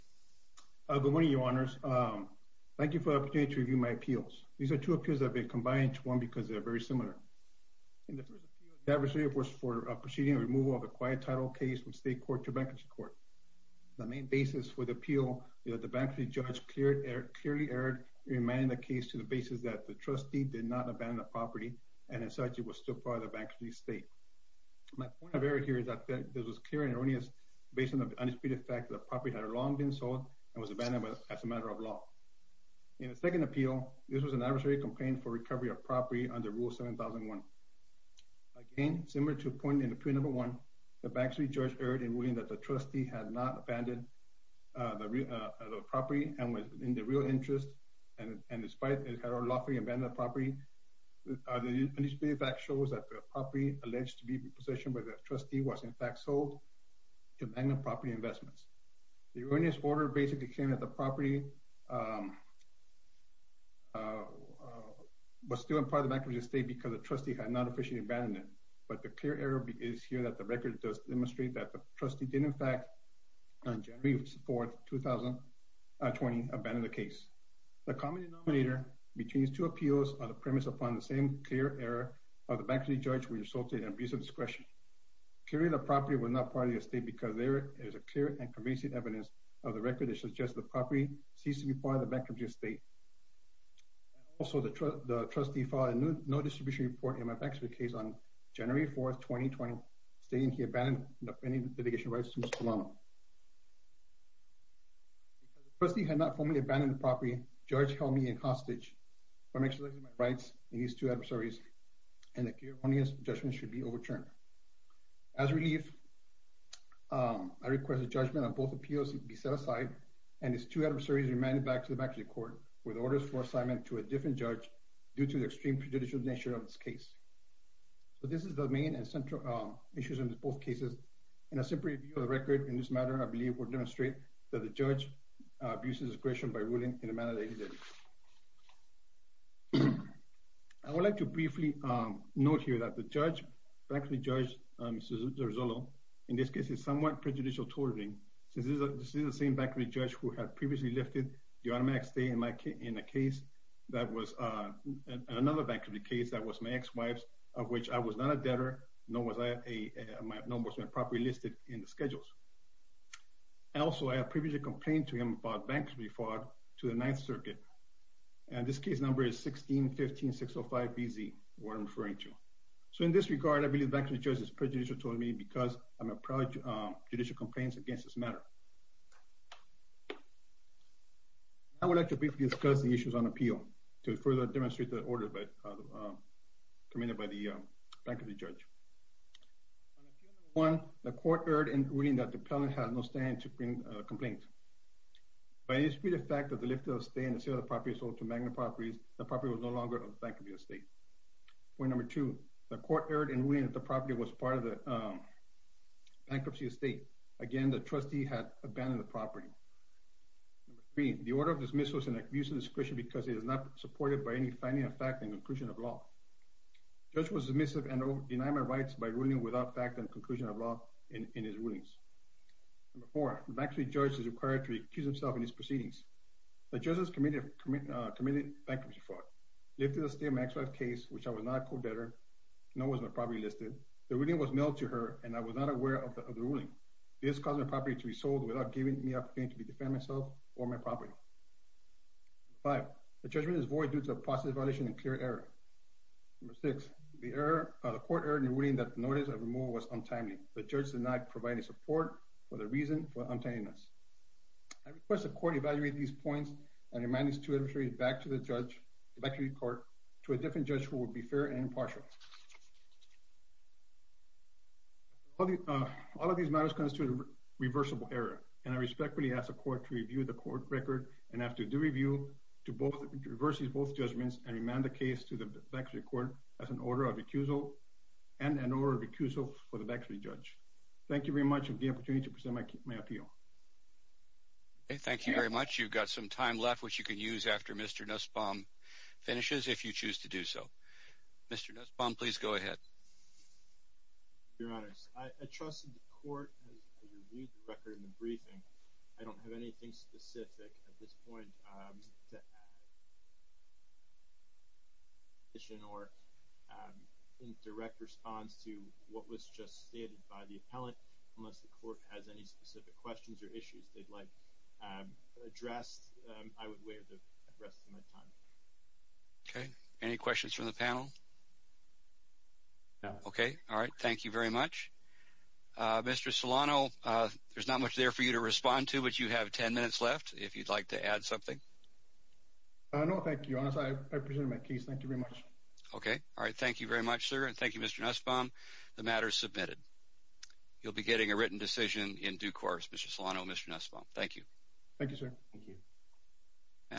Good morning, your honors. Thank you for the opportunity to review my appeals. These are two appeals that have been combined into one because they are very similar. In the first appeal, the adversary was for proceeding a removal of a quiet title case from state court to bankruptcy court. The main basis for the appeal is that the bankruptcy judge clearly erred in remanding the case to the basis that the trustee did not abandon the property and as such it was still part of the bankruptcy estate. My point of error here is that this was clear and erroneous based on the undisputed fact that the property had long been sold and was abandoned as a matter of law. In the second appeal, this was an adversary complaint for recovery of property under rule 7001. Again, similar to the point in appeal number one, the bankruptcy judge erred in ruling that the trustee had not abandoned the property and was in the real interest and despite it had unlawfully abandoned the property. The property investments. The erroneous order basically came that the property was still a part of bankruptcy estate because the trustee had not officially abandoned it, but the clear error is here that the record does demonstrate that the trustee did in fact on January 4th, 2020, abandon the case. The common denominator between these two appeals on the premise upon the same clear error of the bankruptcy judge resulted in abuse of discretion. Clearly the property was not part of the estate because there is a clear and convincing evidence of the record that suggests the property ceased to be part of the bankruptcy estate. And also the trustee filed a no distribution report in my bankruptcy case on January 4th, 2020 stating he abandoned the pending litigation rights to his commando. Because the trustee had not formally abandoned the property, the judge held me in hostage by maximizing my rights in these two adversaries and the erroneous judgment should be overturned. As relief, I request the judgment of both appeals be set aside and its two adversaries remanded back to the bankruptcy court with orders for assignment to a different judge due to the extreme prejudicial nature of this case. So this is the main and central issues in both cases. In a simple review of the record in this matter, I believe will demonstrate that the judge abuses discretion by ruling in a manner that he did. I would like to briefly note here that the judge, bankruptcy judge, Mr. Zerzullo, in this case is somewhat prejudicial toward me. This is the same bankruptcy judge who had previously lifted the automatic stay in a case that was another bankruptcy case that was my ex-wife's of which I was not a debtor, nor was my property listed in the schedules. And also I had previously complained to him about bankruptcy fraud to the Ninth Circuit, and this case number is 16-15-605-BZ, what I'm referring to. So in this regard, I believe bankruptcy judge is prejudicial toward me because I'm approach judicial complaints against this matter. I would like to briefly discuss the issues on appeal to further demonstrate the order committed by the bankruptcy judge. On appeal number one, the court heard in ruling that the appellant had no stand to bring a complaint. By dispute of fact of the lifted stay in the sale of the property sold to Magna Properties, the property was no longer a bankruptcy estate. Point number two, the court heard in ruling that the property was part of the bankruptcy estate. Again, the trustee had abandoned the property. Number three, the order of dismissal is an abuse of discretion because it is not supported by any finding of fact and conclusion of law. Judge was submissive and denied my rights by ruling without fact and conclusion of law in his rulings. Number four, the bankruptcy judge is required to recuse himself in his proceedings. The judge has committed bankruptcy fraud, lifted the stay of my ex-wife's case, which I was not a co-debtor, no was my property listed. The ruling was mailed to her and I was not aware of the ruling. This caused my property to be sold without giving me an opportunity to defend myself or my property. Number five, the judgment is void due to a process violation and clear error. Number six, the court heard in ruling that the notice of removal was untimely. The judge did not provide any support for the reason for untimeliness. I request the court evaluate these points and remind these two adversaries back to the judge, the bankruptcy court, to a different judge who will be fair and impartial. All of these matters constitute a reversible error, and I respectfully ask the court to review the court record and after due review to reverse both judgments and remand the case to the bankruptcy court as an order of accusal and an order of accusal for the bankruptcy judge. Thank you very much for the opportunity to present my appeal. Thank you very much. You've got some time left, which you can use after Mr. Nussbaum finishes if you choose to do so. Mr. Nussbaum, please go ahead. Your honors, I trusted the court as I reviewed the record in the briefing. I don't have anything specific at this point or in direct response to what was just stated by the appellant. Unless the court has any specific questions or issues they'd like addressed, I would waive the rest of my time. Okay, any questions from the panel? No. Okay, all right. Thank you very much. Mr. Solano, there's not much there for you to respond to, but you have 10 minutes left if you'd like to add something. No, thank you. I presented my case. Thank you very much. Okay, all right. Thank you very much, sir, and thank you, Mr. Nussbaum. The matter is submitted. You'll be getting a written decision in due course, Mr. Solano and Mr. Nussbaum. Thank you. Thank you, sir.